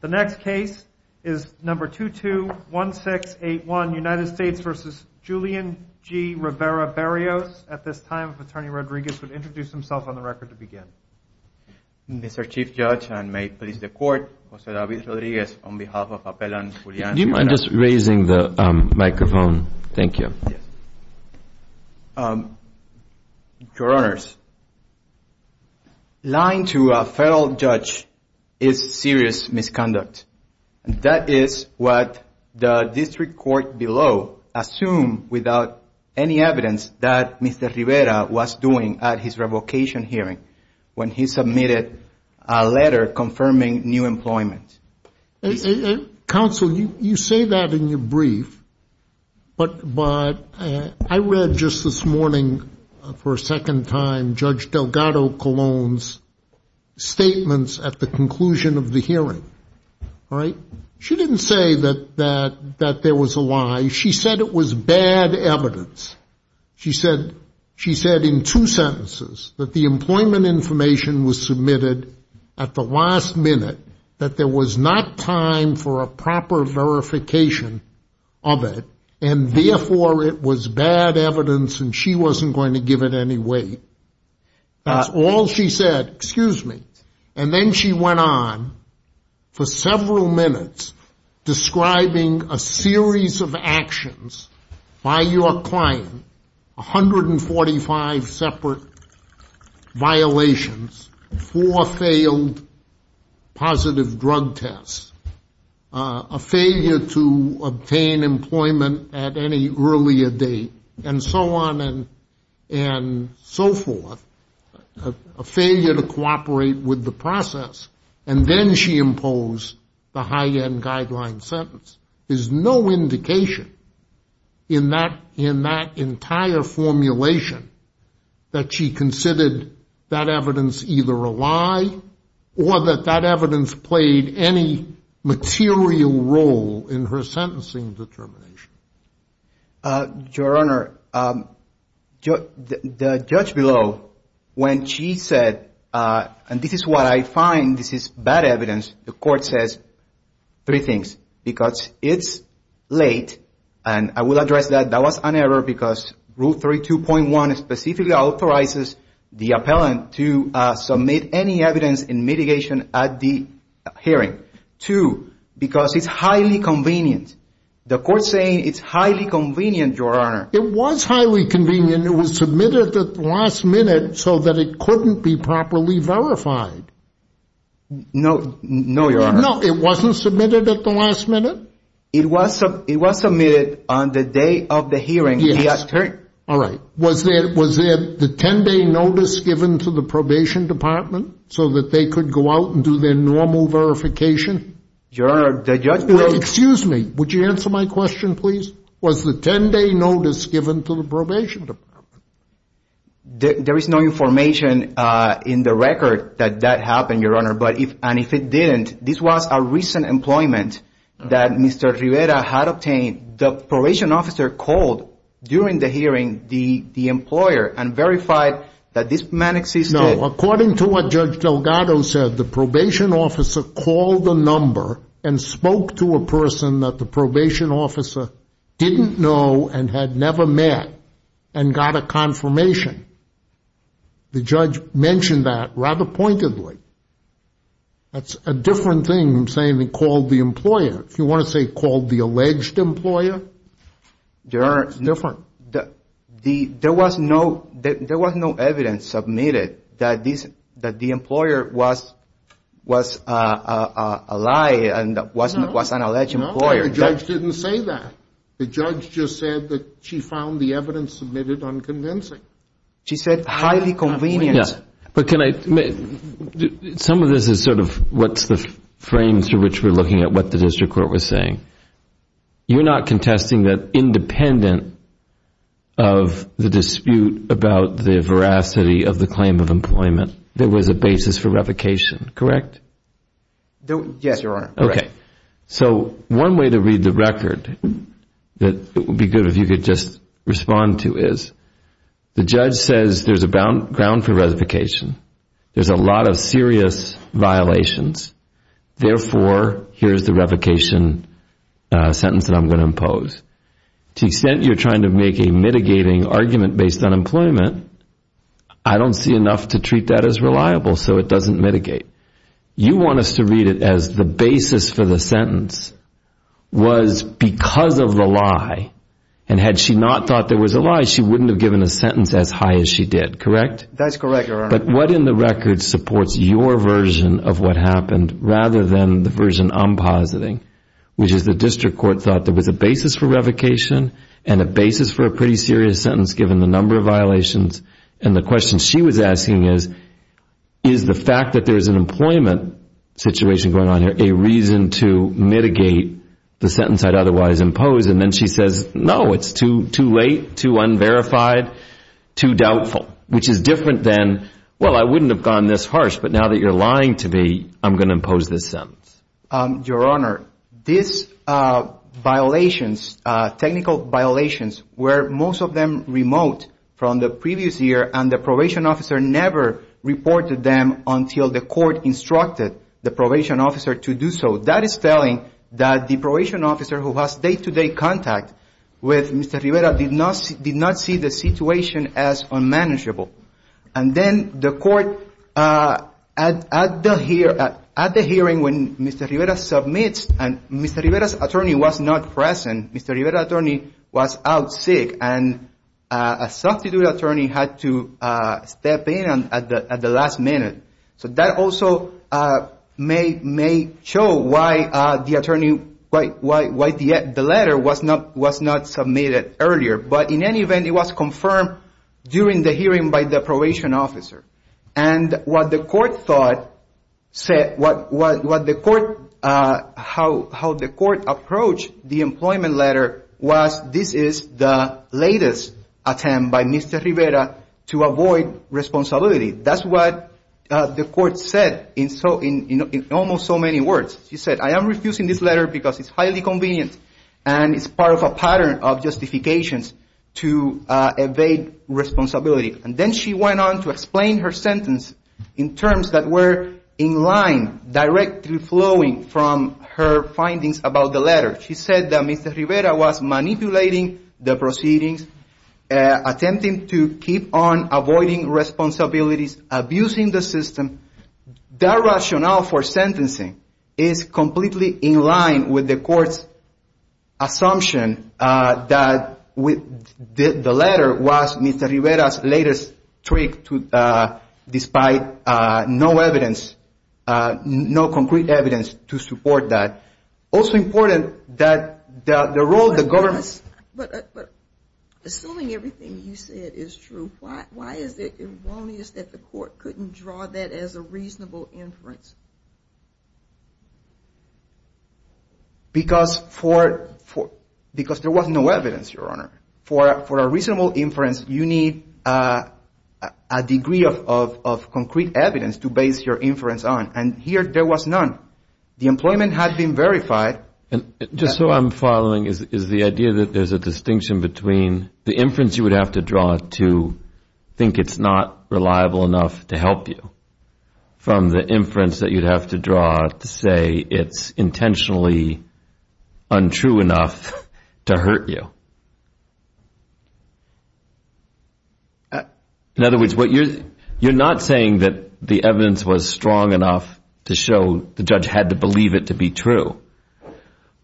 The next case is number 221681, United States v. Julian G. Rivera-Berrios. At this time, Attorney Rodriguez would introduce himself on the record to begin. Mr. Chief Judge, and may it please the Court, José David Rodríguez, on behalf of Appellant Julián G. Rivera-Berrios. Do you mind just raising the microphone? Thank you. Yes. Your Honors, lying to a federal judge is serious misconduct. That is what the district court below assumed without any evidence that Mr. Rivera was doing at his revocation hearing when he submitted a letter confirming new employment. Counsel, you say that in your brief, but I read just this morning for a second time Judge Delgado Colon's statements at the conclusion of the hearing. All right? She didn't say that there was a lie. She said it was bad evidence. She said in two sentences that the employment information was submitted at the last minute, that there was not time for a proper verification of it, and therefore it was bad evidence and she wasn't going to give it any weight. That's all she said. Excuse me. And then she went on for several minutes describing a series of actions by your client, 145 separate violations, four failed positive drug tests, a failure to obtain employment at any earlier date, and so on. And so forth, a failure to cooperate with the process. And then she imposed the high-end guideline sentence. There's no indication in that entire formulation that she considered that evidence either a lie or that that evidence played any material role in her sentencing determination. Your Honor, the judge below, when she said, and this is what I find, this is bad evidence, the court says three things. Because it's late, and I will address that. That was an error because Rule 32.1 specifically authorizes the appellant to submit any evidence in mitigation at the hearing. Two, because it's highly convenient. The court's saying it's highly convenient, Your Honor. It was highly convenient. It was submitted at the last minute so that it couldn't be properly verified. No, Your Honor. No, it wasn't submitted at the last minute? It was submitted on the day of the hearing. Yes. All right. Was there the 10-day notice given to the probation department so that they could go out and do their normal verification? Your Honor, the judge below Excuse me. Would you answer my question, please? Was the 10-day notice given to the probation department? There is no information in the record that that happened, Your Honor. And if it didn't, this was a recent employment that Mr. Rivera had obtained. The probation officer called during the hearing the employer and verified that this man existed. No, according to what Judge Delgado said, the probation officer called the number and spoke to a person that the probation officer didn't know and had never met and got a confirmation. The judge mentioned that rather pointedly. That's a different thing from saying he called the employer. If you want to say called the alleged employer, it's different. There was no evidence submitted that the employer was a liar and was an alleged employer. No, the judge didn't say that. The judge just said that she found the evidence submitted unconvincing. She said highly convenient. Yes. Some of this is sort of what's the frame through which we're looking at what the district court was saying. You're not contesting that independent of the dispute about the veracity of the claim of employment, there was a basis for revocation, correct? Yes, Your Honor. Okay. So one way to read the record that it would be good if you could just respond to is the judge says there's a ground for revocation. There's a lot of serious violations. Therefore, here's the revocation sentence that I'm going to impose. To the extent you're trying to make a mitigating argument based on employment, I don't see enough to treat that as reliable, so it doesn't mitigate. You want us to read it as the basis for the sentence was because of the lie, and had she not thought there was a lie, she wouldn't have given a sentence as high as she did, correct? That's correct, Your Honor. But what in the record supports your version of what happened rather than the version I'm positing, which is the district court thought there was a basis for revocation and a basis for a pretty serious sentence given the number of violations. And the question she was asking is, is the fact that there's an employment situation going on here a reason to mitigate the sentence I'd otherwise impose? And then she says, no, it's too late, too unverified, too doubtful, which is different than, well, I wouldn't have gone this harsh, but now that you're lying to me, I'm going to impose this sentence. Your Honor, these violations, technical violations, were most of them remote from the previous year, and the probation officer never reported them until the court instructed the probation officer to do so. That is telling that the probation officer who has day-to-day contact with Mr. Rivera did not see the situation as unmanageable. And then the court, at the hearing when Mr. Rivera submits, and Mr. Rivera's attorney was not present. Mr. Rivera's attorney was out sick, and a substitute attorney had to step in at the last minute. So that also may show why the letter was not submitted earlier. But in any event, it was confirmed during the hearing by the probation officer. And what the court thought, how the court approached the employment letter was, this is the latest attempt by Mr. Rivera to avoid responsibility. That's what the court said in almost so many words. She said, I am refusing this letter because it's highly convenient, and it's part of a pattern of justifications to evade responsibility. And then she went on to explain her sentence in terms that were in line, directly flowing from her findings about the letter. She said that Mr. Rivera was manipulating the proceedings, attempting to keep on avoiding responsibilities, abusing the system. That rationale for sentencing is completely in line with the court's assumption that the letter was Mr. Rivera's latest trick despite no concrete evidence to support that. Also important that the role of the government... But assuming everything you said is true, why is it erroneous that the court couldn't draw that as a reasonable inference? Because there was no evidence, Your Honor. For a reasonable inference, you need a degree of concrete evidence to base your inference on. And here there was none. The employment had been verified. Just so I'm following is the idea that there's a distinction between the inference you would have to draw to think it's not reliable enough to help you, from the inference that you'd have to draw to say it's intentionally untrue enough to hurt you. In other words, you're not saying that the evidence was strong enough to show the judge had to believe it to be true.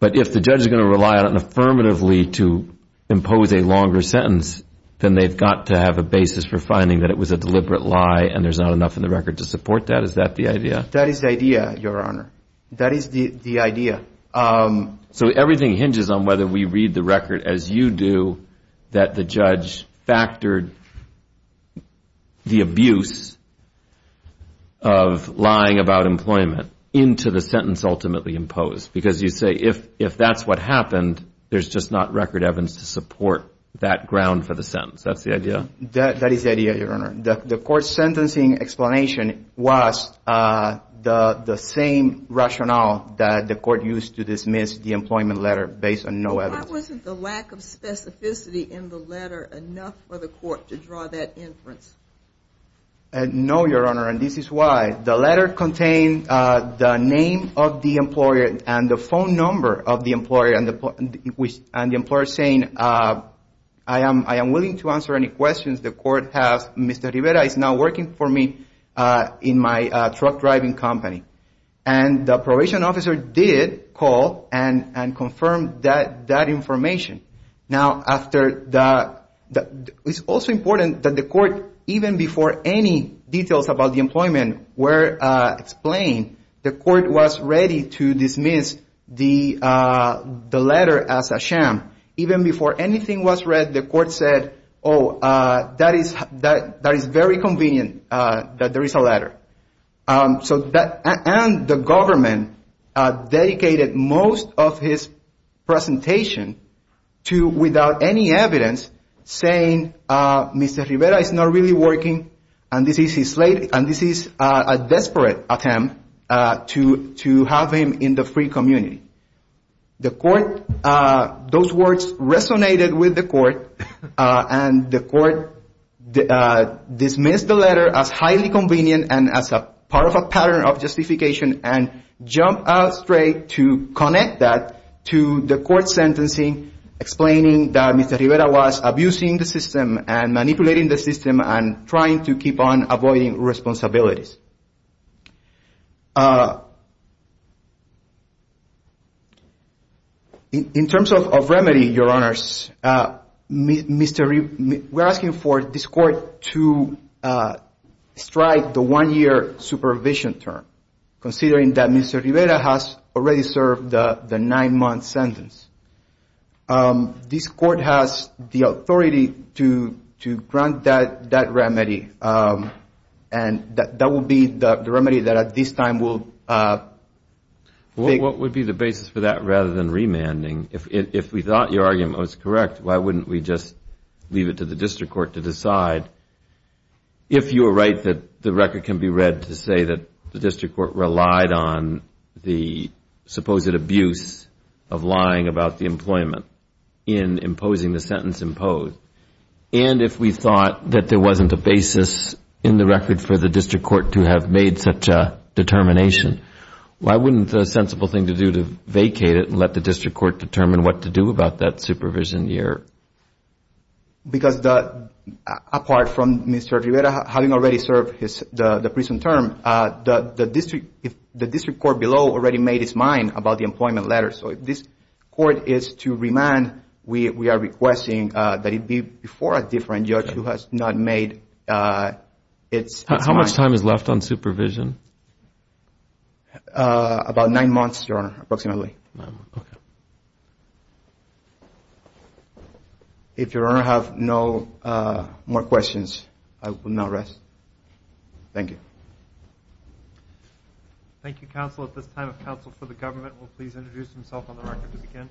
But if the judge is going to rely on it affirmatively to impose a longer sentence, then they've got to have a basis for finding that it was a deliberate lie and there's not enough in the record to support that. Is that the idea? That is the idea, Your Honor. That is the idea. So everything hinges on whether we read the record as you do, that the judge factored the abuse of lying about employment into the sentence ultimately imposed. Because you say if that's what happened, there's just not record evidence to support that ground for the sentence. That's the idea? That is the idea, Your Honor. The court's sentencing explanation was the same rationale that the court used to dismiss the employment letter based on no evidence. Why wasn't the lack of specificity in the letter enough for the court to draw that inference? No, Your Honor, and this is why. The letter contained the name of the employer and the phone number of the employer, and the employer saying, I am willing to answer any questions the court has. Mr. Rivera is now working for me in my truck driving company. And the probation officer did call and confirm that information. Now, it's also important that the court, even before any details about the employment were explained, the court was ready to dismiss the letter as a sham. Even before anything was read, the court said, oh, that is very convenient that there is a letter. And the government dedicated most of his presentation to, without any evidence, saying, Mr. Rivera is not really working, and this is a desperate attempt to have him in the free community. The court, those words resonated with the court, and the court dismissed the letter as highly convenient and as part of a pattern of justification and jumped out straight to connect that to the court's sentencing, explaining that Mr. Rivera was abusing the system and manipulating the system and trying to keep on avoiding responsibilities. In terms of remedy, Your Honors, we're asking for this court to strike the one-year supervision term, considering that Mr. Rivera has already served the nine-month sentence. This court has the authority to grant that remedy, and that will be the remedy that, at this time, will be. Well, what would be the basis for that rather than remanding? If we thought your argument was correct, why wouldn't we just leave it to the district court to decide, if you were right that the record can be read to say that the district court relied on the supposed abuse of lying about the employment in imposing the sentence imposed, and if we thought that there wasn't a basis in the record for the district court to have made such a determination, why wouldn't the sensible thing to do to vacate it and let the district court determine what to do about that supervision year? Because apart from Mr. Rivera having already served the prison term, the district court below already made its mind about the employment letter. So if this court is to remand, we are requesting that it be before a different judge who has not made its mind. How much time is left on supervision? About nine months, Your Honor, approximately. If Your Honor have no more questions, I will now rest. Thank you. Thank you, counsel. At this time, a counsel for the government will please introduce himself on the record to begin.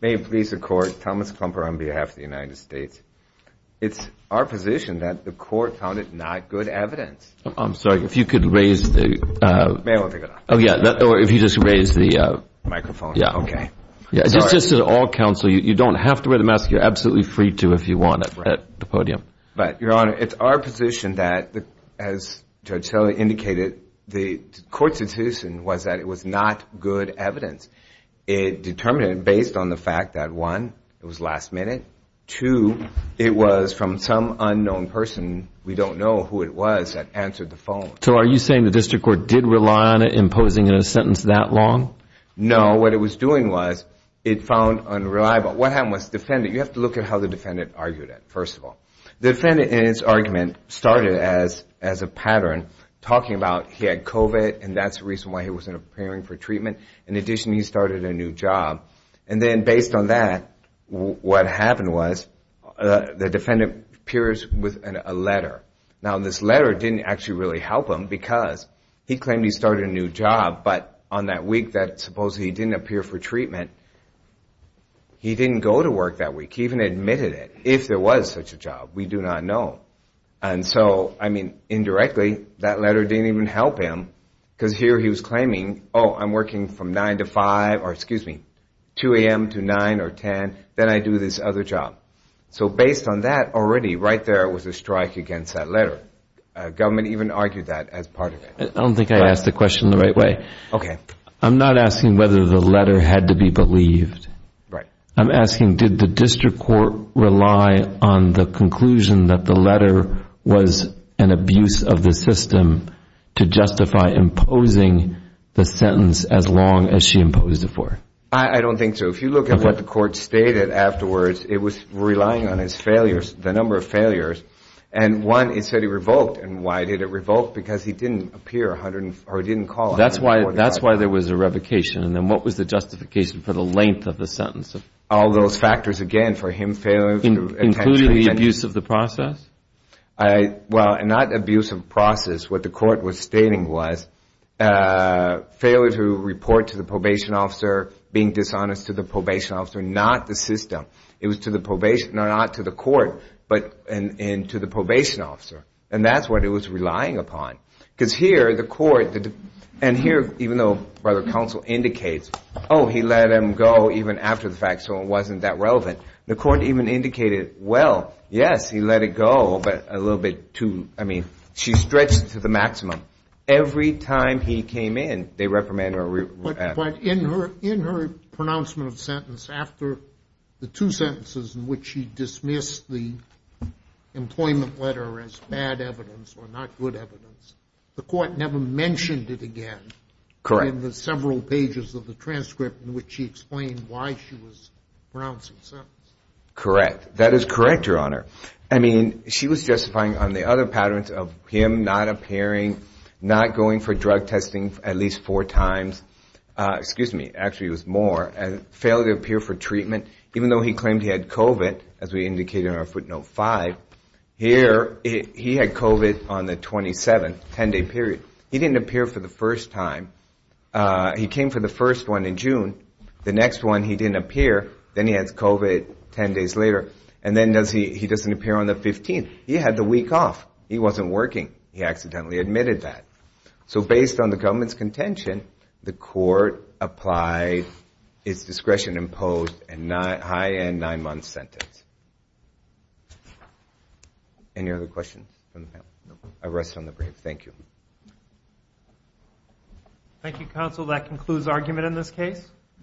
May it please the court, Thomas Klumper on behalf of the United States. It's our position that the court found it not good evidence. I'm sorry. If you could raise the microphone. Just to all counsel, you don't have to wear the mask. You're absolutely free to if you want it at the podium. But, Your Honor, it's our position that, as Judge Tiller indicated, the court's decision was that it was not good evidence. It determined, based on the fact that, one, it was last minute, two, it was from some unknown person. We don't know who it was that answered the phone. So are you saying the district court did rely on it in posing a sentence that long? No. What it was doing was it found unreliable. What happened was the defendant, you have to look at how the defendant argued it, first of all. The defendant in his argument started as a pattern talking about he had COVID and that's the reason why he wasn't appearing for treatment. In addition, he started a new job. And then, based on that, what happened was the defendant appears with a letter. Now, this letter didn't actually really help him because he claimed he started a new job, but on that week that supposedly he didn't appear for treatment, he didn't go to work that week. He even admitted it. If there was such a job, we do not know. And so, I mean, indirectly, that letter didn't even help him because here he was claiming, oh, I'm working from 9 to 5 or, excuse me, 2 a.m. to 9 or 10. Then I do this other job. So based on that already, right there was a strike against that letter. Government even argued that as part of it. I don't think I asked the question the right way. Okay. I'm not asking whether the letter had to be believed. Right. I'm asking did the district court rely on the conclusion that the letter was an abuse of the system to justify imposing the sentence as long as she imposed it for him? I don't think so. If you look at what the court stated afterwards, it was relying on his failures, the number of failures. And one, it said he revoked. And why did it revoke? Because he didn't appear or he didn't call. That's why there was a revocation. And then what was the justification for the length of the sentence? All those factors again for him failing. Including the abuse of the process? Well, not abuse of the process. What the court was stating was failure to report to the probation officer, being dishonest to the probation officer, not the system. It was to the probation officer, not to the court, but to the probation officer. And that's what it was relying upon. Because here the court, and here even though rather counsel indicates, oh, he let him go even after the fact so it wasn't that relevant. The court even indicated, well, yes, he let it go. But a little bit too, I mean, she stretched it to the maximum. Every time he came in, they reprimanded her. But in her pronouncement of the sentence, after the two sentences in which she dismissed the employment letter as bad evidence or not good evidence, the court never mentioned it again. Correct. In the several pages of the transcript in which she explained why she was pronouncing the sentence. Correct. That is correct, Your Honor. I mean, she was justifying on the other patterns of him not appearing, not going for drug testing at least four times. Excuse me, actually it was more. Failure to appear for treatment. Even though he claimed he had COVID, as we indicated in our footnote five, here he had COVID on the 27th, 10-day period. He didn't appear for the first time. He came for the first one in June. The next one he didn't appear. Then he has COVID 10 days later. And then he doesn't appear on the 15th. He had the week off. He wasn't working. He accidentally admitted that. So based on the government's contention, the court applied its discretion and imposed a high-end nine-month sentence. Any other questions from the panel? No. I rest on the brave. Thank you. Thank you, counsel. That concludes argument in this case.